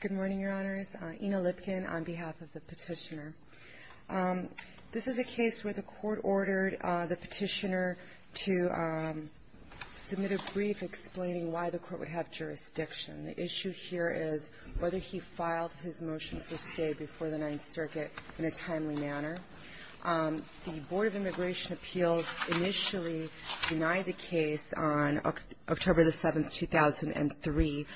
Good morning, Your Honors. Ina Lipkin on behalf of the petitioner. This is a case where the court ordered the petitioner to submit a brief explaining why the court would have jurisdiction. The issue here is whether he filed his motion for stay before the Ninth Circuit in a timely manner. The Board of Immigration Appeals initially denied the case on October 7, 2003,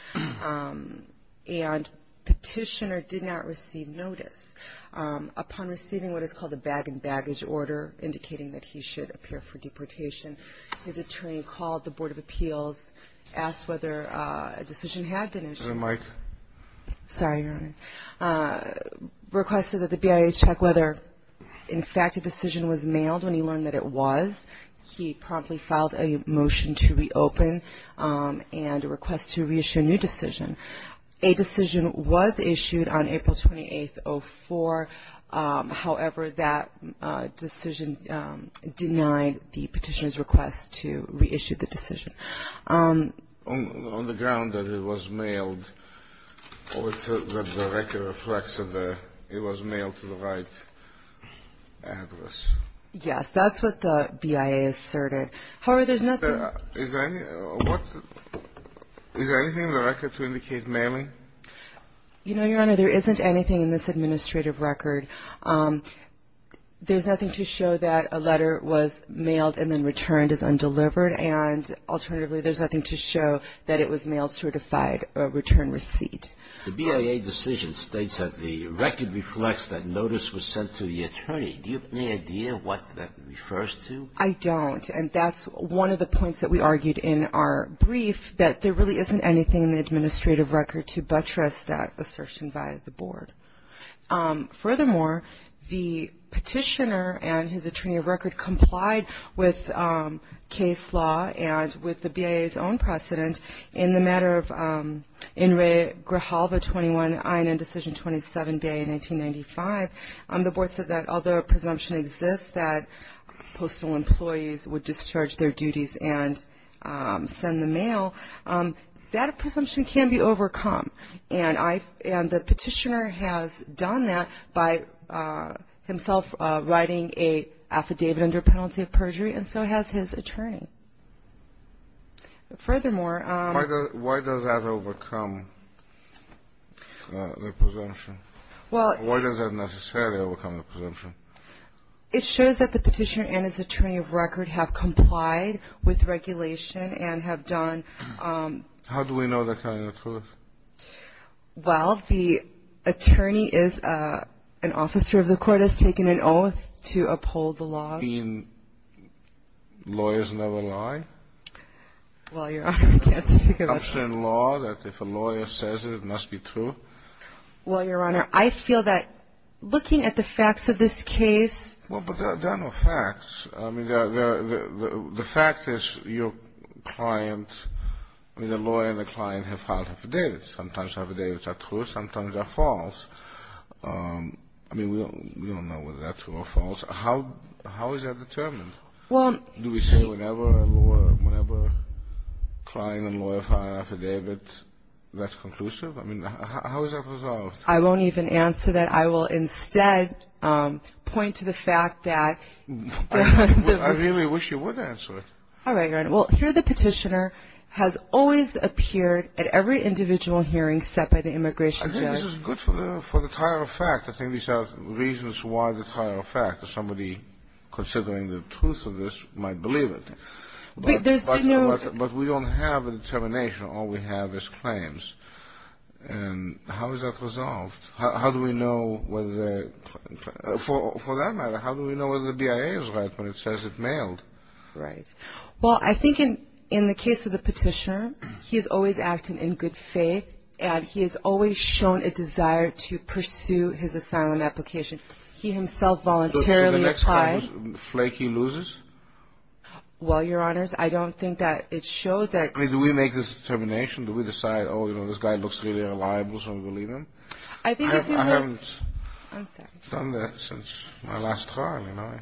and petitioner did not receive notice. Upon receiving what is called a bag-and-baggage order indicating that he should appear for deportation, his attorney called the Board of Appeals, asked whether a decision had been issued. Is there a mic? Sorry, Your Honor. Requested that the BIA check whether, in fact, a decision was mailed when he learned that it was. He promptly filed a motion to reopen and a request to reissue a new decision. A decision was issued on April 28, 2004. However, that decision denied the petitioner's request to reissue the decision. On the ground that it was mailed or that the record reflects that it was mailed to the right address. Yes, that's what the BIA asserted. However, there's nothing Is there anything in the record to indicate mailing? You know, Your Honor, there isn't anything in this administrative record. There's nothing to show that a letter was mailed and then returned as undelivered. And alternatively, there's nothing to show that it was mail-certified return receipt. The BIA decision states that the record reflects that notice was sent to the attorney. Do you have any idea what that refers to? I don't. And that's one of the points that we argued in our brief, that there really isn't anything in the administrative record to buttress that assertion by the board. Furthermore, the petitioner and his attorney of record complied with case law and with the BIA's own precedent. In the matter of In Re Grijalva 21 INN Decision 27 BIA 1995, the board said that although a presumption exists that postal employees would discharge their duties and send the mail, that presumption can be overcome. And the petitioner has done that by himself writing a affidavit under penalty of perjury, and so has his attorney. Furthermore Why does that overcome the presumption? Why does that necessarily overcome the presumption? It shows that the petitioner and his attorney of record have complied with regulation and have done How do we know that kind of truth? Well, the attorney is an officer of the court has taken an oath to uphold the law. You mean lawyers never lie? Well, but there are no facts. I mean, the fact is your client, the lawyer and the client have filed affidavits. Sometimes affidavits are true, sometimes they're false. I mean, we don't know whether they're true or false. How is that determined? Do we say whenever a client and lawyer file an affidavit, that's conclusive? I mean, how is that resolved? I won't even answer that. I will instead point to the fact that I really wish you would answer it. All right. Well, here the petitioner has always appeared at every individual hearing set by the immigration judge. This is good for the tire of fact. I think these are reasons why the tire of fact that somebody considering the truth of this might believe it. But we don't have a determination. All we have is claims. And how is that resolved? How do we know whether, for that matter, how do we know whether the DIA is right when it says it's mailed? Right. Well, I think in the case of the petitioner, he is always acting in good faith and he has always shown a desire to pursue his asylum application. He himself voluntarily applied. Flaky loses? Well, Your Honors, I don't think that it showed that. I mean, do we make this determination? Do we decide, oh, you know, this guy looks really reliable, so I'm going to leave him? I haven't done that since my last trial, you know.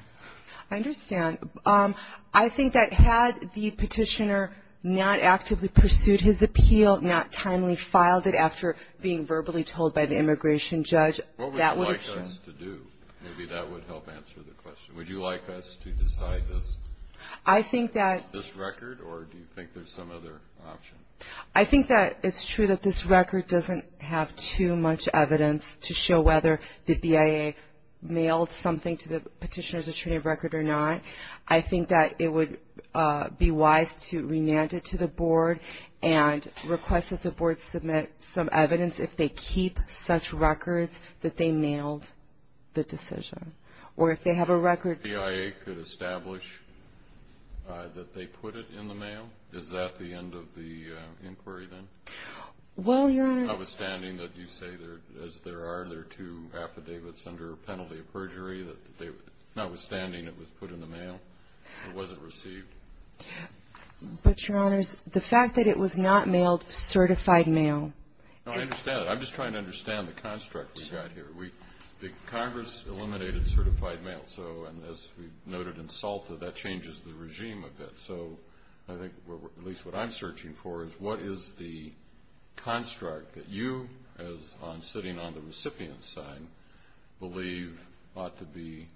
I understand. I think that had the petitioner not actively pursued his appeal, not timely filed it after being verbally told by the immigration judge, that would have shown. What would you like us to do? Maybe that would help answer the question. Would you like us to decide this record, or do you think there's some other option? I think that it's true that this record doesn't have too much evidence to show whether the DIA mailed something to the petitioner's attorney of record or not. I think that it would be wise to remand it to the board and request that the board submit some evidence if they keep such records that they mailed the decision. Or if they have a record. If the DIA could establish that they put it in the mail, is that the end of the inquiry then? Well, Your Honor. Notwithstanding that you say, as there are, there are two affidavits under penalty of perjury, notwithstanding it was put in the mail, or was it received? But, Your Honor, the fact that it was not mailed certified mail is No, I understand that. I'm just trying to understand the construct we've got here. The Congress eliminated certified mail, and as we've noted in SALTA, that changes the regime a bit. So I think, at least what I'm searching for, is what is the construct that you, as on sitting on the recipient's side, believe ought to be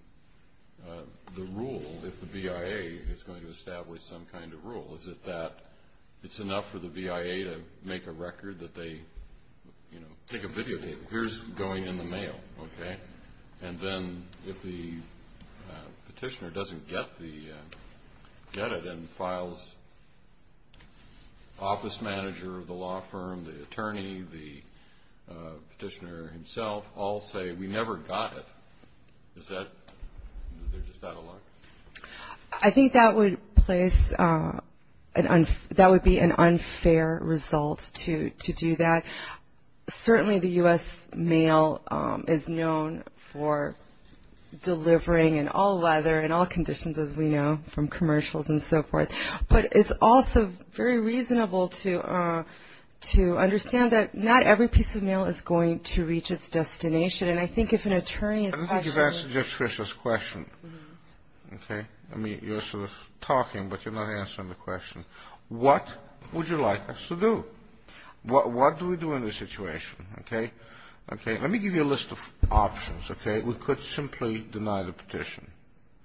the rule if the BIA is going to establish some kind of rule? Is it that it's enough for the BIA to make a record that they, you know, take a video, here's going in the mail, okay? And then if the petitioner doesn't get it and files the office manager of the law firm, the attorney, the petitioner himself, all say, we never got it, is that, they're just out of luck? I think that would place, that would be an unfair result to do that. Certainly the U.S. mail is known for delivering in all weather and all conditions, as we know, from commercials and so forth. But it's also very reasonable to understand that not every piece of mail is going to reach its destination. And I think if an attorney is... I think you've answered Judge Fischer's question, okay? I mean, you're sort of talking, but you're not answering the question. What would you like us to do? What do we do in this situation, okay? Let me give you a list of options, okay? We could simply deny the petition,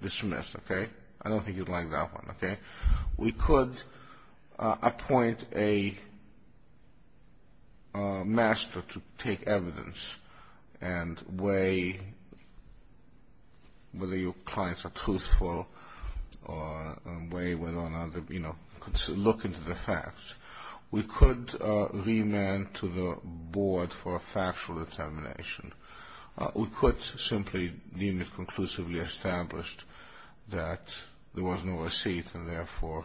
dismiss, okay? I don't think you'd like that one. We could appoint a master to take evidence and weigh whether your clients are truthful or weigh whether or not, you know, look into the facts. We could remand to the board for a factual determination. We could simply leave it conclusively established that there was no receipt, and therefore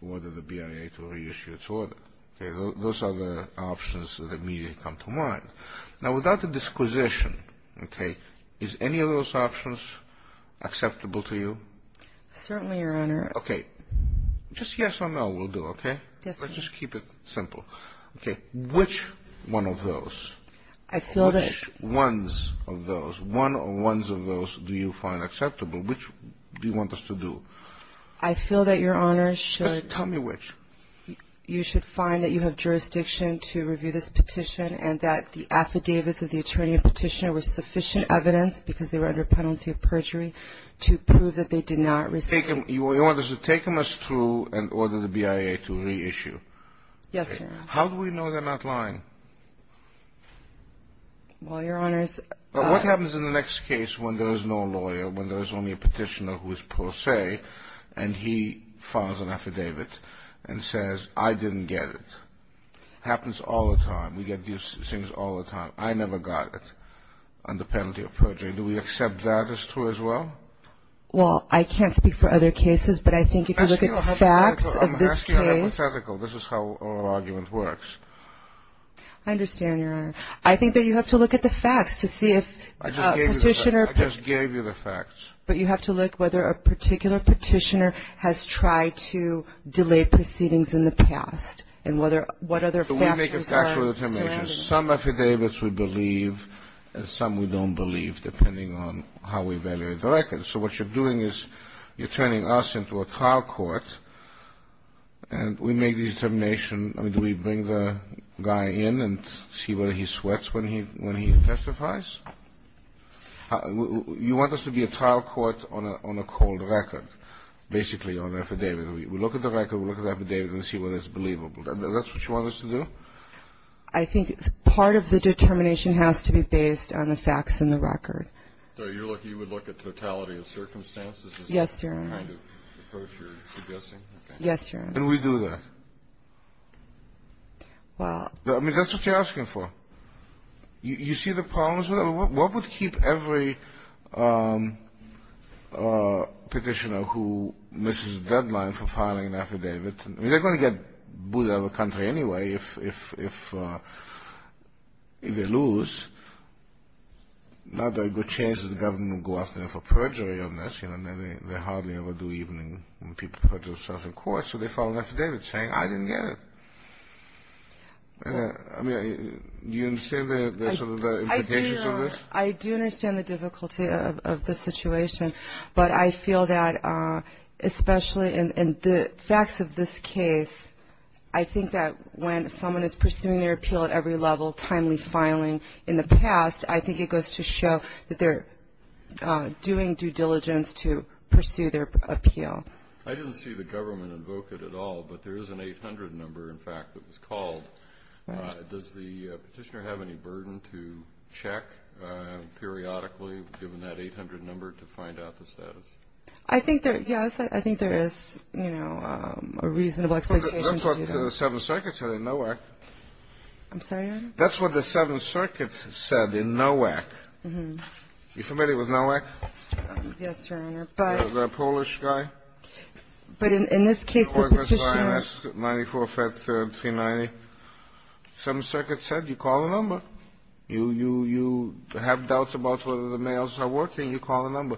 order the BIA to reissue its order. Those are the options that immediately come to mind. Now, without the disquisition, okay, is any of those options acceptable to you? Certainly, Your Honor. Okay. Just yes or no will do, okay? Yes, Your Honor. Let's just keep it simple. Okay. Has it taken us through and ordered the BIA to reissue? Yes, Your Honor. How do we know they're not lying? Well, Your Honors, What happens in the next case when there is no lawyer, when there is only a petitioner who is pro se, and he files an affidavit and says, I didn't get it? Happens all the time. We get these things all the time. I never got it under penalty of perjury. Do we accept that as true as well? Well, I can't speak for other cases, but I think if you look at the facts of this case. I'm asking a hypothetical. This is how oral argument works. I understand, Your Honor. I think that you have to look at the facts to see if a petitioner. I just gave you the facts. But you have to look whether a particular petitioner has tried to delay proceedings in the past and what other factors are serving. Some affidavits we believe and some we don't believe, depending on how we evaluate the records. So what you're doing is you're turning us into a trial court, and we make the determination. I mean, do we bring the guy in and see whether he sweats when he testifies? You want us to be a trial court on a cold record, basically on an affidavit. We look at the record, we look at the affidavit and see whether it's believable. Is that what you want us to do? I think part of the determination has to be based on the facts and the record. So you would look at totality of circumstances? Yes, Your Honor. Is that the kind of approach you're suggesting? Yes, Your Honor. Can we do that? Well. I mean, that's what you're asking for. You see the problems with that? What would keep every petitioner who misses a deadline for filing an affidavit? I mean, they're going to get booted out of the country anyway if they lose. Now there are good chances the government will go after them for perjury on this. They hardly ever do even when people put themselves in court. So they file an affidavit saying, I didn't get it. I mean, do you understand the implications of this? I do understand the difficulty of the situation. But I feel that especially in the facts of this case, I think that when someone is pursuing their appeal at every level, timely filing in the past, I think it goes to show that they're doing due diligence to pursue their appeal. I didn't see the government invoke it at all, but there is an 800 number, in fact, that was called. Does the petitioner have any burden to check periodically, given that 800 number, to find out the status? I think there is, you know, a reasonable expectation to do that. That's what the Seventh Circuit said in Nowak. I'm sorry, Your Honor? That's what the Seventh Circuit said in Nowak. Mm-hmm. Are you familiar with Nowak? Yes, Your Honor. The Polish guy? But in this case, the petitioner ---- 94, 5th, 3rd, 390. The Seventh Circuit said you call the number. You have doubts about whether the mails are working. You call the number.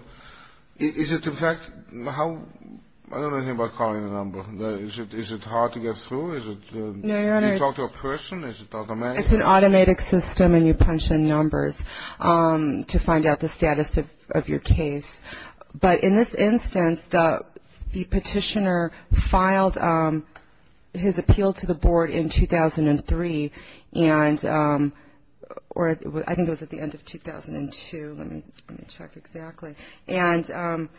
Is it, in fact, how ---- I don't know anything about calling the number. Is it hard to get through? Is it ---- No, Your Honor, it's ---- Do you talk to a person? Is it automatic? It's an automatic system, and you punch in numbers to find out the status of your case. But in this instance, the petitioner filed his appeal to the board in 2003, or I think it was at the end of 2002. Let me check exactly. And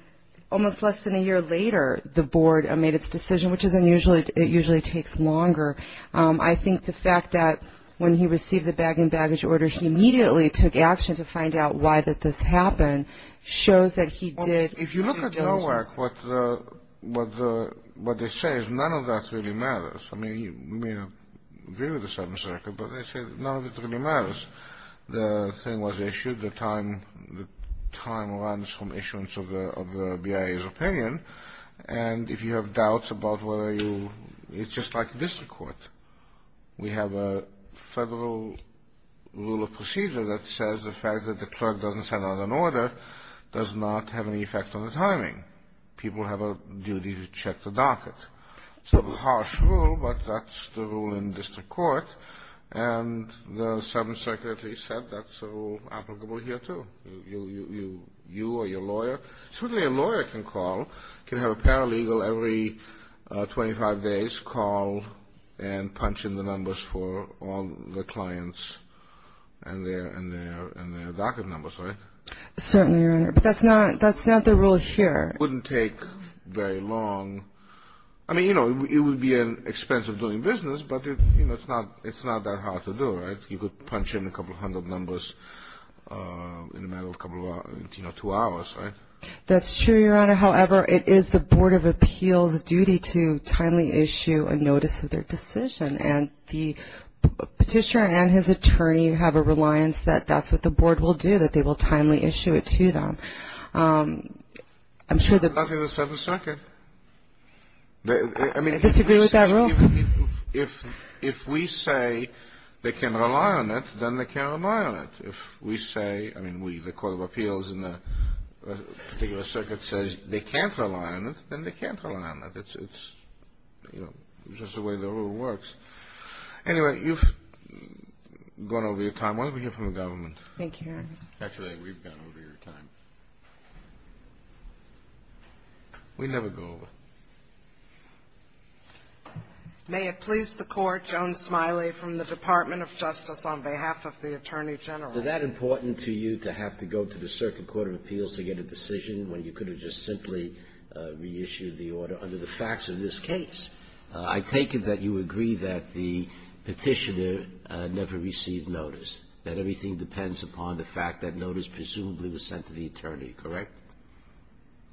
almost less than a year later, the board made its decision, which is unusual. It usually takes longer. I think the fact that when he received the bag-in-baggage order, he immediately took action to find out why that this happened shows that he did ---- If you look at NOAC, what they say is none of that really matters. I mean, you may agree with the Seventh Circuit, but they say none of it really matters. The thing was issued, the time runs from issuance of the BIA's opinion, and if you have doubts about whether you ---- it's just like district court. We have a federal rule of procedure that says the fact that the clerk doesn't send out an order does not have any effect on the timing. People have a duty to check the docket. It's a harsh rule, but that's the rule in district court, and the Seventh Circuit at least said that's applicable here too. You or your lawyer, certainly a lawyer can call, can have a paralegal every 25 days call and punch in the numbers for all the clients and their docket numbers, right? Certainly, Your Honor, but that's not the rule here. It wouldn't take very long. I mean, it would be an expense of doing business, but it's not that hard to do, right? You could punch in a couple hundred numbers in a matter of a couple of hours, two hours, right? That's true, Your Honor. However, it is the Board of Appeals' duty to timely issue a notice of their decision, and the Petitioner and his attorney have a reliance that that's what the Board will do, that they will timely issue it to them. I'm sure the ---- I think the Seventh Circuit ---- I disagree with that rule. If we say they can rely on it, then they can rely on it. If we say ---- I mean, the Court of Appeals in a particular circuit says they can't rely on it, then they can't rely on it. It's just the way the rule works. Anyway, you've gone over your time. Why don't we hear from the government? Thank you, Your Honor. Actually, we've gone over your time. We never go over. May it please the Court, Joan Smiley from the Department of Justice, on behalf of the Attorney General. Is that important to you, to have to go to the Circuit Court of Appeals to get a decision when you could have just simply reissued the order under the facts of this case? I take it that you agree that the Petitioner never received notice, that everything depends upon the fact that notice presumably was sent to the attorney, correct?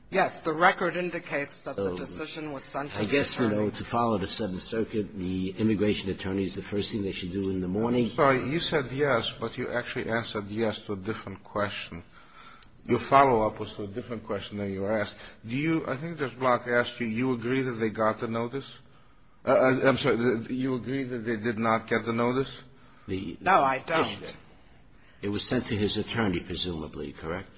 Yes. The record indicates that the decision was sent to the attorney. I guess, you know, to follow the Seventh Circuit, the immigration attorneys, the first thing they should do in the morning ---- I'm sorry. You said yes, but you actually answered yes to a different question. Your follow-up was to a different question than you asked. Do you ---- I think Judge Block asked you, do you agree that they got the notice? I'm sorry. Do you agree that they did not get the notice? No, I don't. It was sent to his attorney, presumably, correct?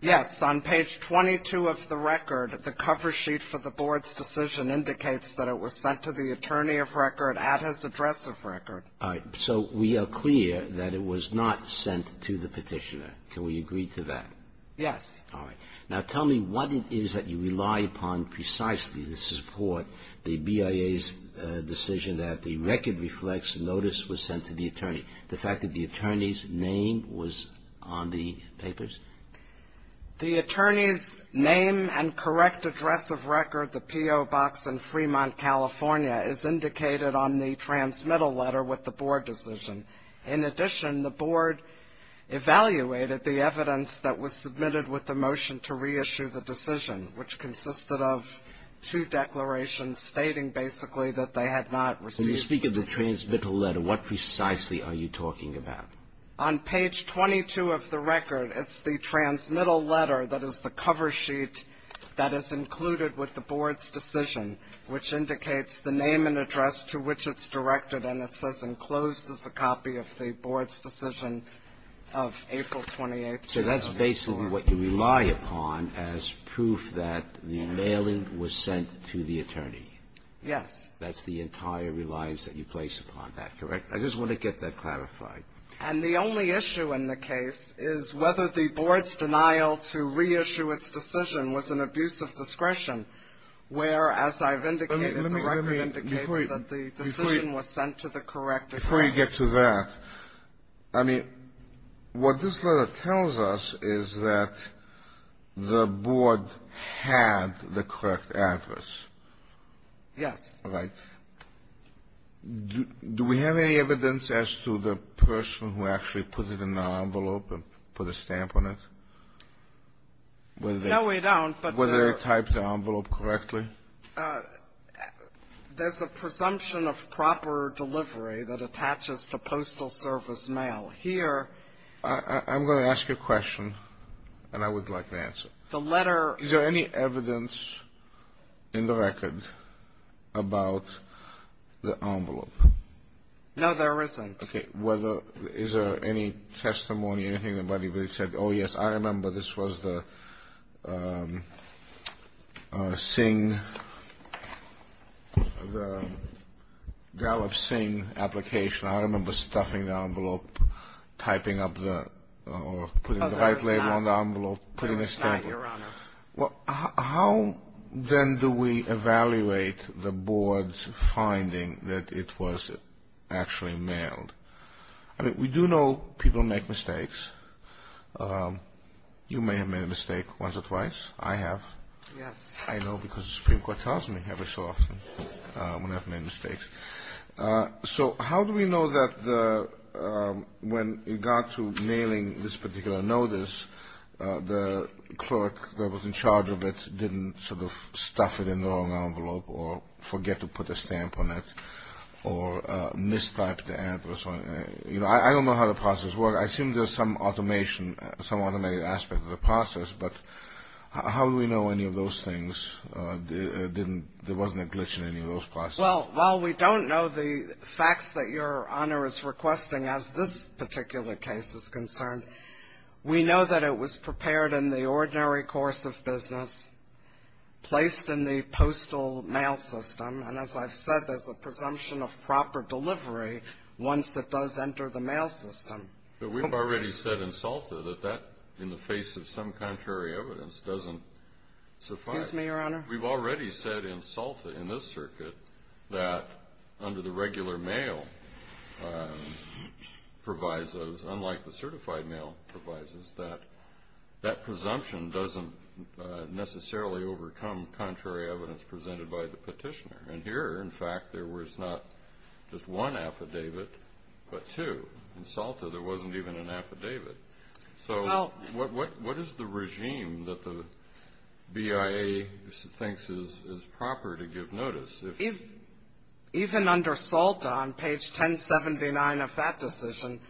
Yes. On page 22 of the record, the cover sheet for the Board's decision indicates that it was sent to the attorney of record at his address of record. All right. So we are clear that it was not sent to the Petitioner. Can we agree to that? Yes. All right. Now, tell me what it is that you rely upon precisely to support the BIA's decision that the record reflects notice was sent to the attorney, the fact that the attorney's name was on the papers? The attorney's name and correct address of record, the P.O. Box in Fremont, California, is indicated on the transmittal letter with the Board decision. In addition, the Board evaluated the evidence that was submitted with the motion to reissue the decision, which consisted of two declarations stating basically that they had not received the decision. When you speak of the transmittal letter, what precisely are you talking about? On page 22 of the record, it's the transmittal letter that is the cover sheet that is included with the Board's decision, which indicates the name and address to which it's directed, and it says enclosed is a copy of the Board's decision of April 28th, 2007. So that's basically what you rely upon as proof that the mailing was sent to the attorney. Yes. That's the entire reliance that you place upon that, correct? I just want to get that clarified. And the only issue in the case is whether the Board's denial to reissue its decision was an abuse of discretion, whereas I've indicated the record indicates that the decision was sent to the correct address. Before you get to that, I mean, what this letter tells us is that the Board had the correct address. Yes. Right? Do we have any evidence as to the person who actually put it in the envelope and put a stamp on it? No, we don't. Whether they typed the envelope correctly? There's a presumption of proper delivery that attaches to postal service mail. Here ---- I'm going to ask you a question, and I would like to answer it. The letter ---- Is there any evidence in the record about the envelope? No, there isn't. Okay. Is there any testimony, anything about anybody that said, oh, yes, I remember this was the Gallup-Singh application. I remember stuffing the envelope, typing up the ---- It's not, Your Honor. Well, how then do we evaluate the Board's finding that it was actually mailed? I mean, we do know people make mistakes. You may have made a mistake once or twice. I have. Yes. I know because the Supreme Court tells me every so often when I've made mistakes. So how do we know that when it got to mailing this particular notice, the clerk that was in charge of it didn't sort of stuff it in the wrong envelope or forget to put a stamp on it or mistype the address? You know, I don't know how the process works. I assume there's some automation, some automated aspect of the process, but how do we know any of those things? There wasn't a glitch in any of those processes? Well, while we don't know the facts that Your Honor is requesting, as this particular case is concerned, we know that it was prepared in the ordinary course of business, placed in the postal mail system, and as I've said there's a presumption of proper delivery once it does enter the mail system. But we've already said in SALTA that that, in the face of some contrary evidence, doesn't suffice. Excuse me, Your Honor. We've already said in SALTA, in this circuit, that under the regular mail provisos, unlike the certified mail provisos, that that presumption doesn't necessarily overcome contrary evidence presented by the petitioner. And here, in fact, there was not just one affidavit but two. In SALTA there wasn't even an affidavit. So what is the regime that the BIA thinks is proper to give notice? Even under SALTA, on page 1079 of that decision,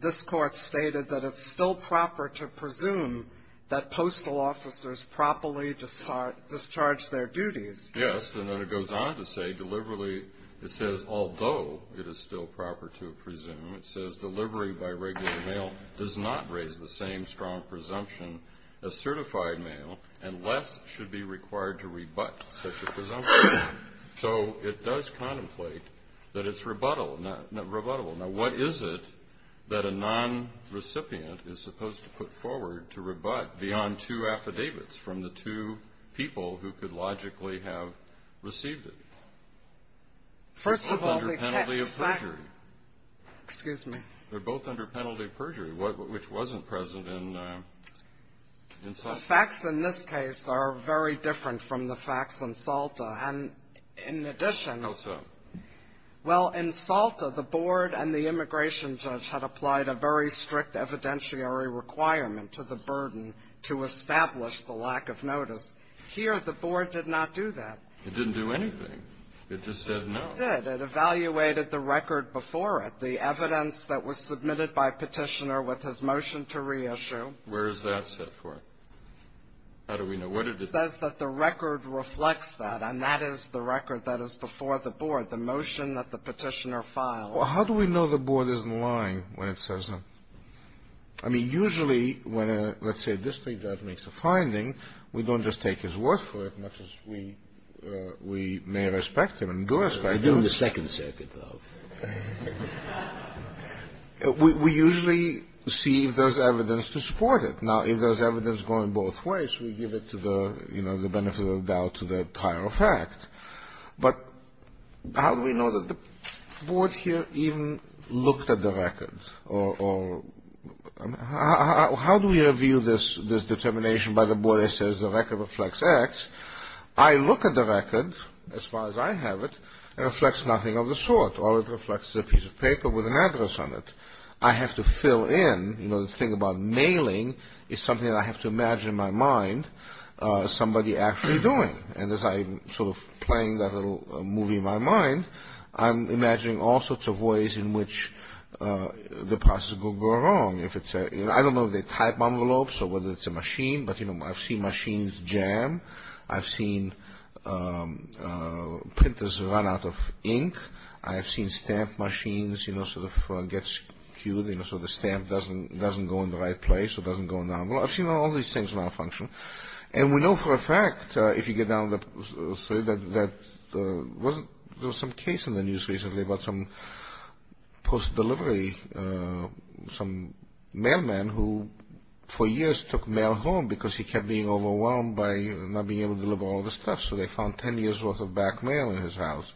this Court stated that it's still proper to presume that postal officers properly discharge their duties. Yes. And then it goes on to say, deliberately, it says, although it is still proper to presume, it says, delivery by regular mail does not raise the same strong presumption as certified mail, and less should be required to rebut such a presumption. So it does contemplate that it's rebuttable. Now, what is it that a nonrecipient is supposed to put forward to rebut beyond two affidavits from the two people who could logically have received it? First of all, they can't. They're both under penalty of perjury. Excuse me. They're both under penalty of perjury, which wasn't present in SALTA. The facts in this case are very different from the facts in SALTA. And in addition to that. How so? Well, in SALTA, the board and the immigration judge had applied a very strict evidentiary requirement to the burden to establish the lack of notice. Here, the board did not do that. It didn't do anything. It just said no. It did. It evaluated the record before it, the evidence that was submitted by Petitioner with his motion to reissue. Where is that set forth? How do we know? What did it say? It says that the record reflects that, and that is the record that is before the board, the motion that the Petitioner filed. Well, how do we know the board isn't lying when it says that? I mean, usually, when a district judge makes a finding, we don't just take his word for it, much as we may respect him and do respect him. We do in the Second Circuit, though. We usually see if there's evidence to support it. Now, if there's evidence going both ways, we give it to the, you know, the benefit of the doubt to the entire effect. But how do we know that the board here even looked at the record? How do we review this determination by the board that says the record reflects X? I look at the record, as far as I have it, and it reflects nothing of the sort. All it reflects is a piece of paper with an address on it. I have to fill in, you know, the thing about mailing is something I have to imagine in my mind somebody actually doing. And as I'm sort of playing that little movie in my mind, I'm imagining all sorts of ways in which the process could go wrong. I don't know if they type envelopes or whether it's a machine, but, you know, I've seen machines jam. I've seen printers run out of ink. I have seen stamp machines, you know, sort of get skewed, you know, so the stamp doesn't go in the right place or doesn't go in the envelope. I've seen all these things malfunction. And we know for a fact, if you get down to say that there was some case in the news recently about some post-delivery, some mailman who for years took mail home because he kept being overwhelmed by not being able to deliver all the stuff, so they found 10 years' worth of back mail in his house.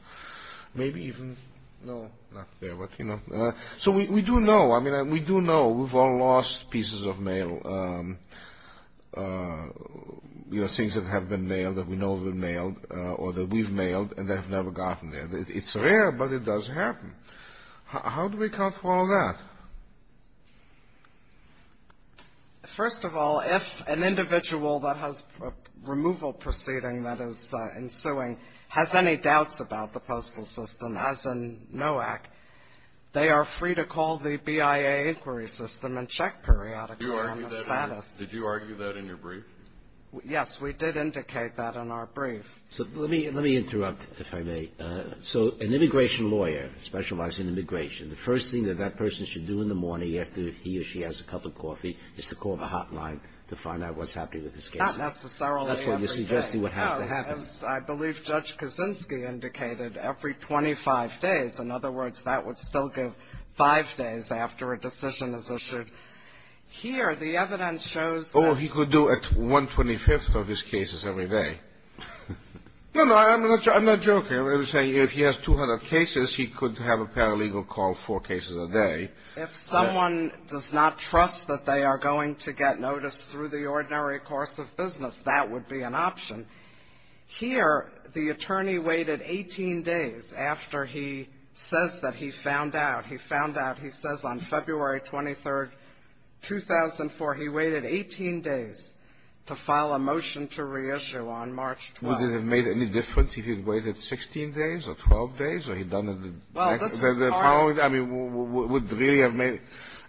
Maybe even, no, not there, but, you know. So we do know. I mean, we do know. We've all lost pieces of mail, you know, things that have been mailed, that we know have been mailed or that we've mailed and that have never gotten there. It's rare, but it does happen. How do we account for all that? First of all, if an individual that has a removal proceeding that is ensuing has any doubts about the postal system, as in NOAC, they are free to call the BIA inquiry system and check periodically on the status. Did you argue that in your brief? Yes. We did indicate that in our brief. So let me interrupt, if I may. So an immigration lawyer specializing in immigration, the first thing that that person should do in the morning after he or she has a cup of coffee is to call the hotline to find out what's happening with his case. Not necessarily every day. That's what you're suggesting would have to happen. No, as I believe Judge Kaczynski indicated, every 25 days. In other words, that would still give five days after a decision is issued. Here, the evidence shows that. Oh, he could do it 125th of his cases every day. No, no, I'm not joking. I'm saying if he has 200 cases, he could have a paralegal call four cases a day. If someone does not trust that they are going to get notice through the ordinary course of business, that would be an option. Here, the attorney waited 18 days after he says that he found out. He says on February 23rd, 2004, he waited 18 days to file a motion to reissue on March 12th. Would it have made any difference if he had waited 16 days or 12 days or he had done it the next day? Well, this is hard. I mean, would it really have made?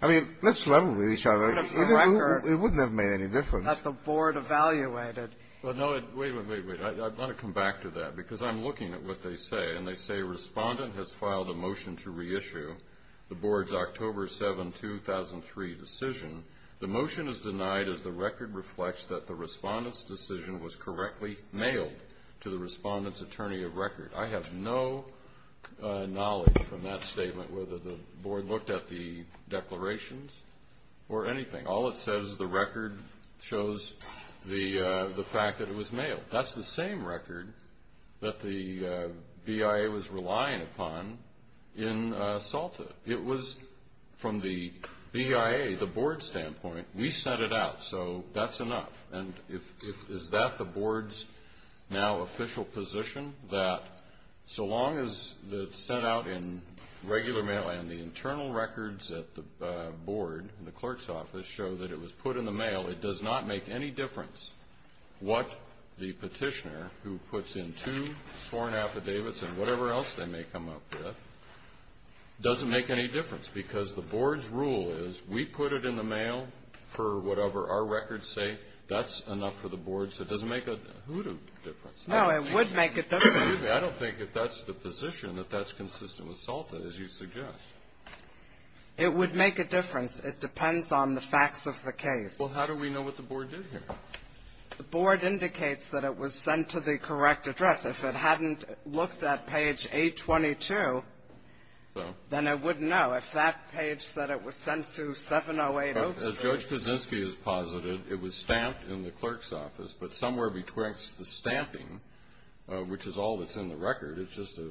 I mean, let's level with each other. It wouldn't have made any difference. That the board evaluated. Well, no. Wait, wait, wait. I want to come back to that, because I'm looking at what they say, and they say the respondent has filed a motion to reissue the board's October 7, 2003 decision. The motion is denied as the record reflects that the respondent's decision was correctly mailed to the respondent's attorney of record. I have no knowledge from that statement whether the board looked at the declarations or anything. All it says is the record shows the fact that it was mailed. That's the same record that the BIA was relying upon in SALTA. It was from the BIA, the board standpoint, we sent it out, so that's enough. And is that the board's now official position that so long as it's sent out in regular mail and the internal records at the board and the clerk's office show that it was put in the mail, it does not make any difference what the petitioner, who puts in two sworn affidavits and whatever else they may come up with, doesn't make any difference? Because the board's rule is we put it in the mail for whatever our records say, that's enough for the board, so it doesn't make a hoot difference. No, it would make a difference. I don't think if that's the position that that's consistent with SALTA, as you suggest. It would make a difference. It depends on the facts of the case. Well, how do we know what the board did here? The board indicates that it was sent to the correct address. If it hadn't looked at page 822, then it wouldn't know. If that page said it was sent to 70803. As Judge Kaczynski has posited, it was stamped in the clerk's office, but somewhere between the stamping, which is all that's in the record, it's just a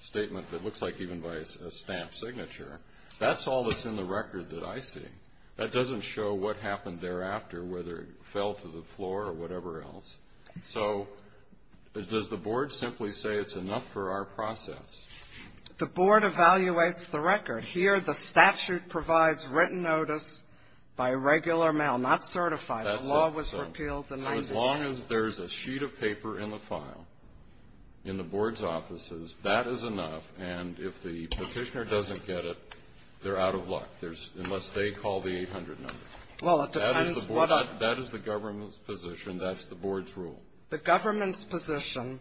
statement that looks like even by a stamped signature, that's all that's in the record that I see. That doesn't show what happened thereafter, whether it fell to the floor or whatever else. So does the board simply say it's enough for our process? The board evaluates the record. Here the statute provides written notice by regular mail, not certified. The law was repealed in 1996. So as long as there's a sheet of paper in the file in the board's offices, that is enough, and if the petitioner doesn't get it, they're out of luck, unless they call the 800 number. That is the government's position. That's the board's rule. The government's position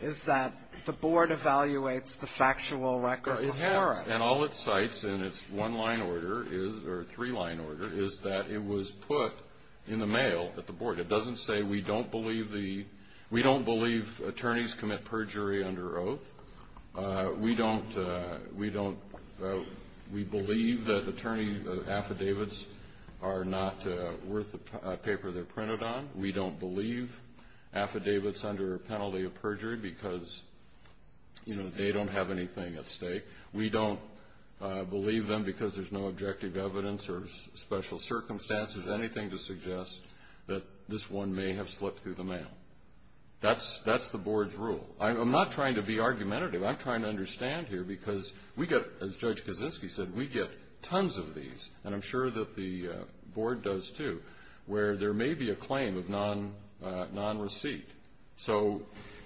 is that the board evaluates the factual record before it. It has, and all it cites in its one-line order, or three-line order, is that it was put in the mail at the board. It doesn't say we don't believe attorneys commit perjury under oath. We believe that attorney affidavits are not worth the paper they're printed on. We don't believe affidavits under penalty of perjury because they don't have anything at stake. We don't believe them because there's no objective evidence or special circumstances, anything to suggest that this one may have slipped through the mail. That's the board's rule. I'm not trying to be argumentative. I'm trying to understand here because we get, as Judge Kaczynski said, we get tons of these, and I'm sure that the board does too, where there may be a claim of non-receipt. So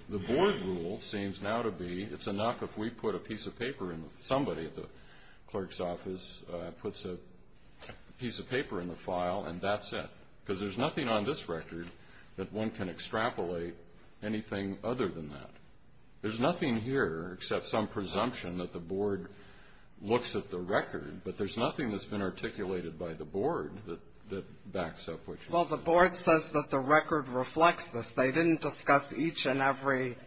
the board rule seems now to be it's enough if we put a piece of paper in somebody at the clerk's office puts a piece of paper in the file and that's it because there's nothing on this record that one can extrapolate anything other than that. There's nothing here except some presumption that the board looks at the record, but there's nothing that's been articulated by the board that backs up what you said. Well, the board says that the record reflects this. They didn't discuss each and every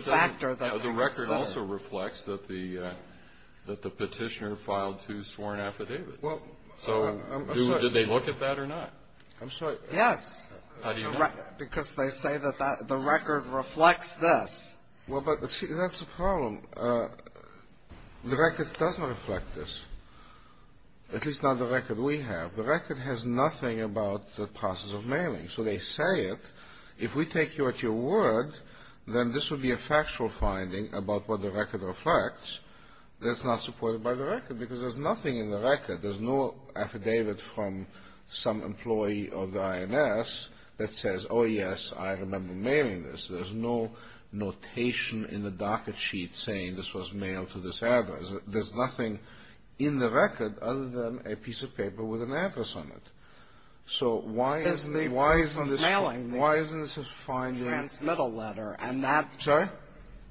factor. The record also reflects that the petitioner filed two sworn affidavits. So did they look at that or not? I'm sorry. Yes. How do you know that? Because they say that the record reflects this. Well, but see, that's the problem. The record doesn't reflect this, at least not the record we have. The record has nothing about the process of mailing. So they say it. If we take you at your word, then this would be a factual finding about what the record reflects that's not supported by the record because there's nothing in the record. There's no affidavit from some employee of the INS that says, oh, yes, I remember mailing this. There's no notation in the docket sheet saying this was mailed to this address. There's nothing in the record other than a piece of paper with an address on it. So why isn't this a finding? It's the proof of mailing. The transmittal letter. Sorry?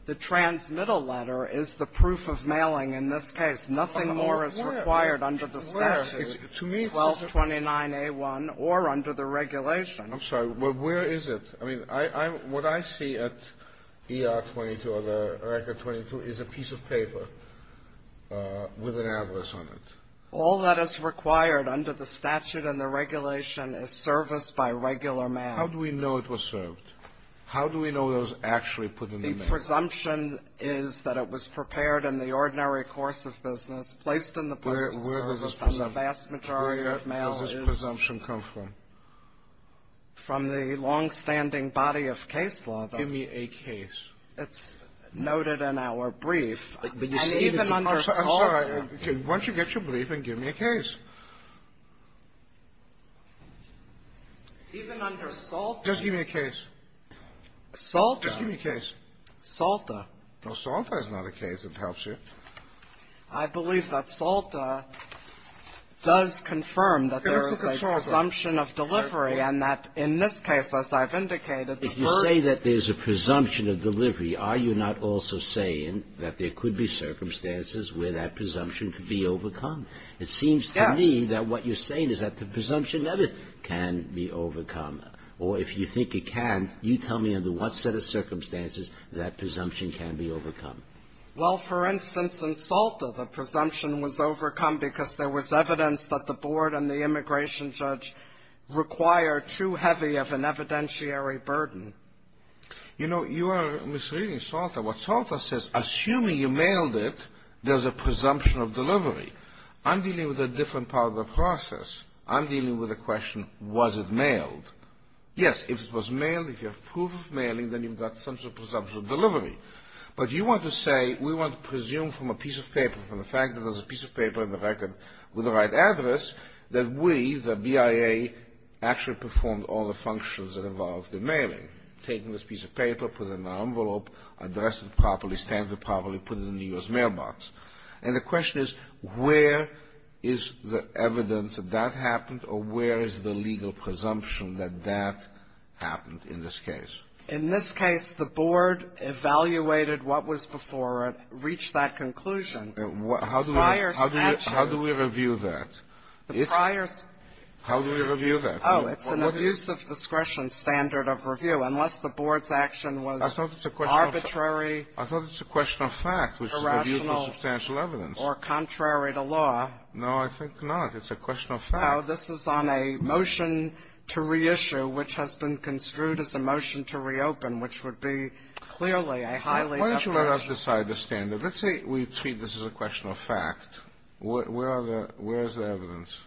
The transmittal letter is the proof of mailing in this case. Nothing more is required under the statute. Where? 1229A1 or under the regulation. I'm sorry. Where is it? I mean, what I see at ER 22 or the record 22 is a piece of paper with an address on it. All that is required under the statute and the regulation is service by regular mail. How do we know it was served? How do we know it was actually put in the mail? The presumption is that it was prepared in the ordinary course of business, placed in the place of service. Where does this presumption come from? From the longstanding body of case law. Give me a case. It's noted in our brief. And even under SALTA. I'm sorry. Why don't you get your brief and give me a case? Even under SALTA. Just give me a case. SALTA. Just give me a case. SALTA. No, SALTA is not a case. It helps you. I believe that SALTA does confirm that there is a presumption of delivery, and that in this case, as I've indicated, the person. When you say that there's a presumption of delivery, are you not also saying that there could be circumstances where that presumption could be overcome? It seems to me that what you're saying is that the presumption never can be overcome. Or if you think it can, you tell me under what set of circumstances that presumption can be overcome. Well, for instance, in SALTA, the presumption was overcome because there was evidence that the board and the immigration judge required too heavy of an evidentiary burden. You know, you are misreading SALTA. What SALTA says, assuming you mailed it, there's a presumption of delivery. I'm dealing with a different part of the process. I'm dealing with a question, was it mailed? Yes, if it was mailed, if you have proof of mailing, then you've got some sort of presumption of delivery. But you want to say we want to presume from a piece of paper, from the fact that there's a piece of paper in the record with the right address, that we, the BIA, actually performed all the functions that involved the mailing, taking this piece of paper, put it in an envelope, addressed it properly, stamped it properly, put it in the U.S. mailbox. And the question is, where is the evidence that that happened, or where is the legal presumption that that happened in this case? In this case, the board evaluated what was before it, reached that conclusion. The prior statute. How do we review that? The prior statute. How do we review that? Oh, it's an abuse of discretion standard of review. Unless the board's action was arbitrary, irrational, or contrary to law. No, I think not. It's a question of fact. No, this is on a motion to reissue, which has been construed as a motion to reopen, which would be clearly a highly definite. Why don't you let us decide the standard? Let's say we treat this as a question of fact. Where is the evidence?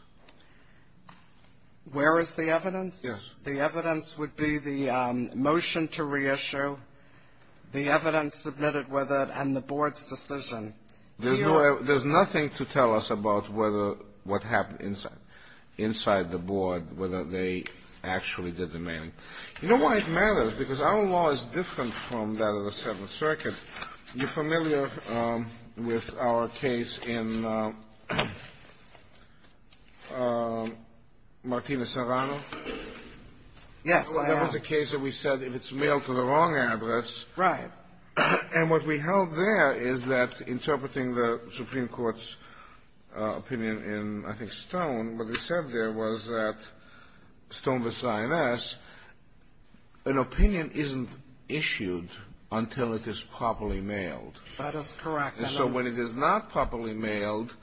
Where is the evidence? Yes. The evidence would be the motion to reissue, the evidence submitted with it, and the board's decision. There's nothing to tell us about what happened inside the board, whether they actually did the mailing. You know why it matters? Because our law is different from that of the Seventh Circuit. You're familiar with our case in Martina Serrano? Yes. That was a case that we said if it's mailed to the wrong address. Right. And what we held there is that interpreting the Supreme Court's opinion in, I think, Stone v. Sinai, an opinion isn't issued until it is properly mailed. That is correct. And so when it is not properly mailed,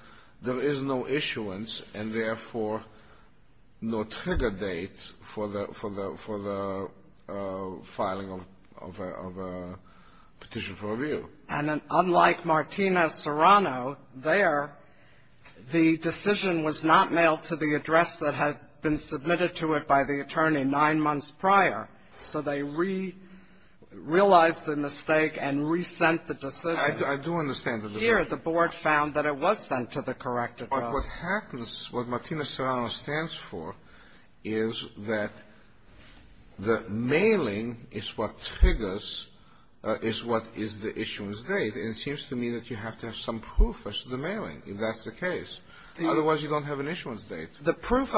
there is no issuance and, therefore, no trigger date for the filing of a petition for review. And unlike Martina Serrano, there the decision was not mailed to the address that had been submitted to it by the attorney nine months prior. So they re-realized the mistake and re-sent the decision. I do understand the debate. Here the board found that it was sent to the correct address. But what happens, what Martina Serrano stands for is that the mailing is what triggers what is the issuance date. And it seems to me that you have to have some proof as to the mailing, if that's the case. Otherwise, you don't have an issuance date. The proof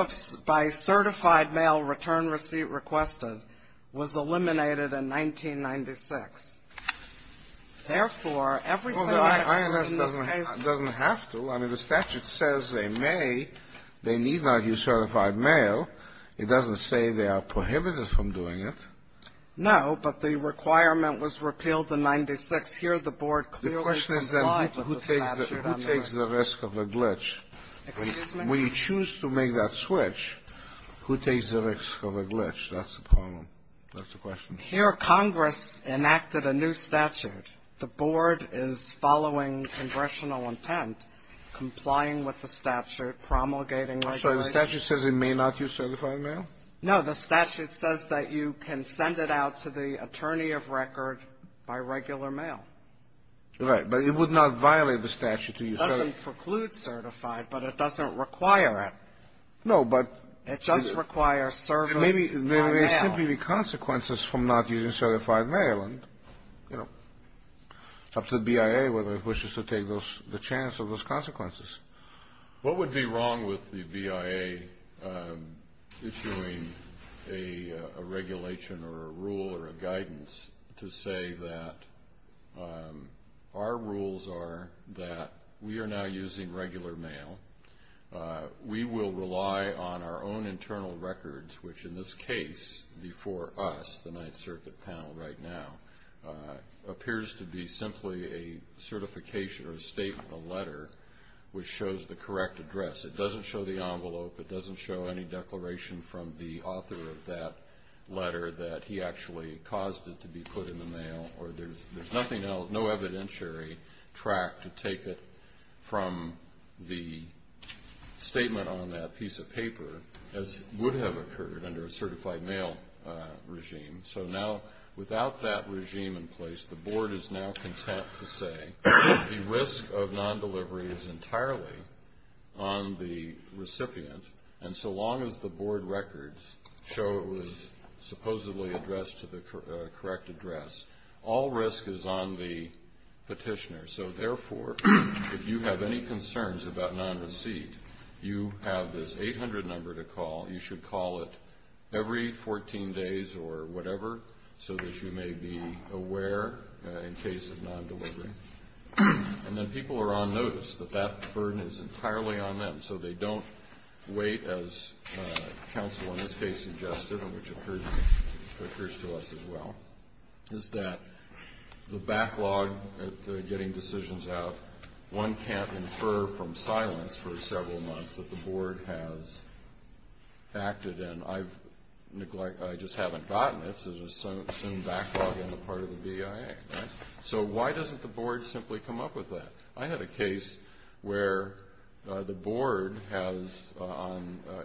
by certified mail return receipt requested was eliminated in 1996. Therefore, everything that occurred in this case was eliminated. Well, the INS doesn't have to. I mean, the statute says they may. They need not use certified mail. It doesn't say they are prohibited from doing it. No, but the requirement was repealed in 1996. Here the board clearly complied with the statute on this. The question is then who takes the risk of a glitch? Excuse me? When you choose to make that switch, who takes the risk of a glitch? That's the problem. That's the question. Here Congress enacted a new statute. The board is following congressional intent, complying with the statute, promulgating regulations. The statute says it may not use certified mail? No. The statute says that you can send it out to the attorney of record by regular mail. Right. But it would not violate the statute to use certified mail. It doesn't preclude certified, but it doesn't require it. No, but the ---- It just requires service by mail. It may simply be consequences from not using certified mail, and, you know, it's up to the BIA whether it wishes to take those the chance of those consequences. What would be wrong with the BIA issuing a regulation or a rule or a guidance to say that our rules are that we are now using regular mail. We will rely on our own internal records, which in this case, before us, the Ninth Circuit panel right now, appears to be simply a certification or a statement, a letter, which shows the correct address. It doesn't show the envelope. It doesn't show any declaration from the author of that letter that he actually caused it to be put in the mail, or there's nothing else, no evidentiary track to take it from the statement on that piece of paper, as would have occurred under a certified mail regime. So now, without that regime in place, the Board is now content to say the risk of non-delivery is entirely on the recipient, and so long as the Board records show it was supposedly addressed to the correct address. All risk is on the petitioner. So, therefore, if you have any concerns about non-receipt, you have this 800 number to call. You should call it every 14 days or whatever, so that you may be aware in case of non-delivery. And then people are on notice that that burden is entirely on them, so they don't wait, as counsel in this case suggested, which occurs to us as well, is that the backlog of getting decisions out, one can't infer from silence for who acted, and I've neglected, I just haven't gotten it, so there's some backlog on the part of the BIA. So why doesn't the Board simply come up with that? I had a case where the Board has,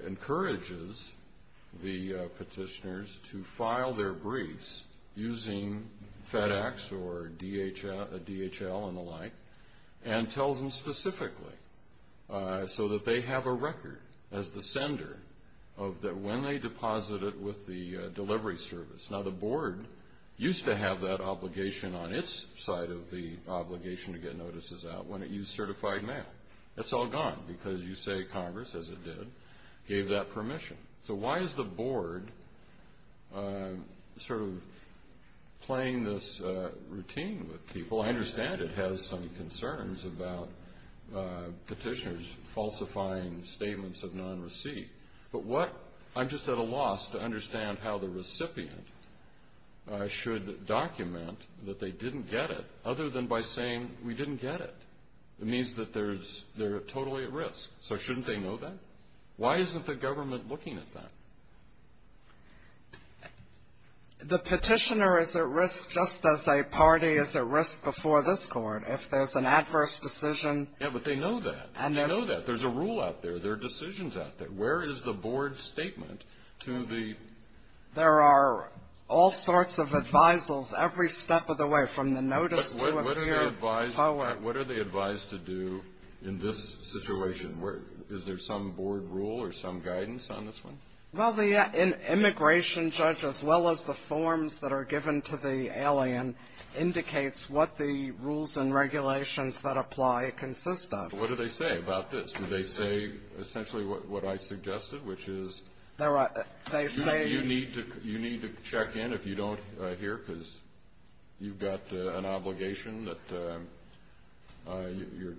encourages the petitioners to file their briefs using FedEx or DHL and the like, and tells them specifically, so that they have a record as the sender of when they deposited with the delivery service. Now, the Board used to have that obligation on its side of the obligation to get notices out when it used certified mail. That's all gone, because you say Congress, as it did, gave that permission. So why is the Board sort of playing this routine with people? Well, I understand it has some concerns about petitioners falsifying statements of non-receipt, but what, I'm just at a loss to understand how the recipient should document that they didn't get it, other than by saying, we didn't get it. It means that they're totally at risk, so shouldn't they know that? Why isn't the government looking at that? The petitioner is at risk just as a party is at risk before this Court, if there's an adverse decision. Yeah, but they know that. They know that. There's a rule out there. There are decisions out there. Where is the Board's statement to the ---- There are all sorts of advisals every step of the way, from the notice to appear forward. But what are they advised to do in this situation? Is there some Board rule or some guidance on this one? Well, the immigration judge, as well as the forms that are given to the alien, indicates what the rules and regulations that apply consist of. What do they say about this? Do they say essentially what I suggested, which is you need to check in if you don't here, because you've got an obligation that your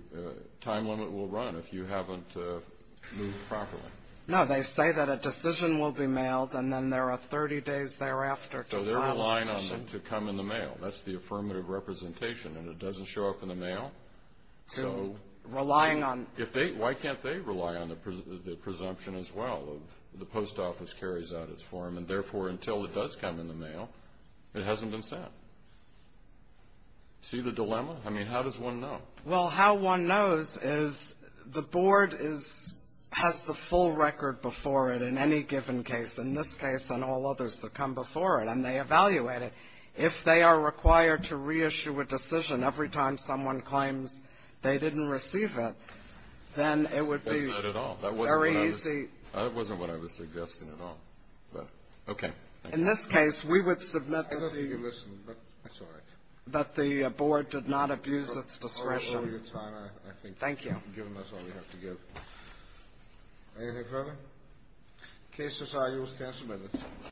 time limit will run if you haven't moved properly. No, they say that a decision will be mailed, and then there are 30 days thereafter to file a petition. So they're relying on them to come in the mail. That's the affirmative representation, and it doesn't show up in the mail. So if they ---- Relying on ---- Why can't they rely on the presumption as well of the post office carries out its form, and therefore until it does come in the mail, it hasn't been sent? See the dilemma? I mean, how does one know? Well, how one knows is the board is ---- has the full record before it in any given case. In this case and all others that come before it, and they evaluate it. If they are required to reissue a decision every time someone claims they didn't receive it, then it would be very easy ---- That's not at all. That wasn't what I was suggesting at all. Okay. In this case, we would submit the ---- I don't think you listened, but that's all right. That the board did not abuse its discretion. I appreciate your time. Thank you. I think you've given us all we have to give. Anything further? The case is argued. The case is submitted.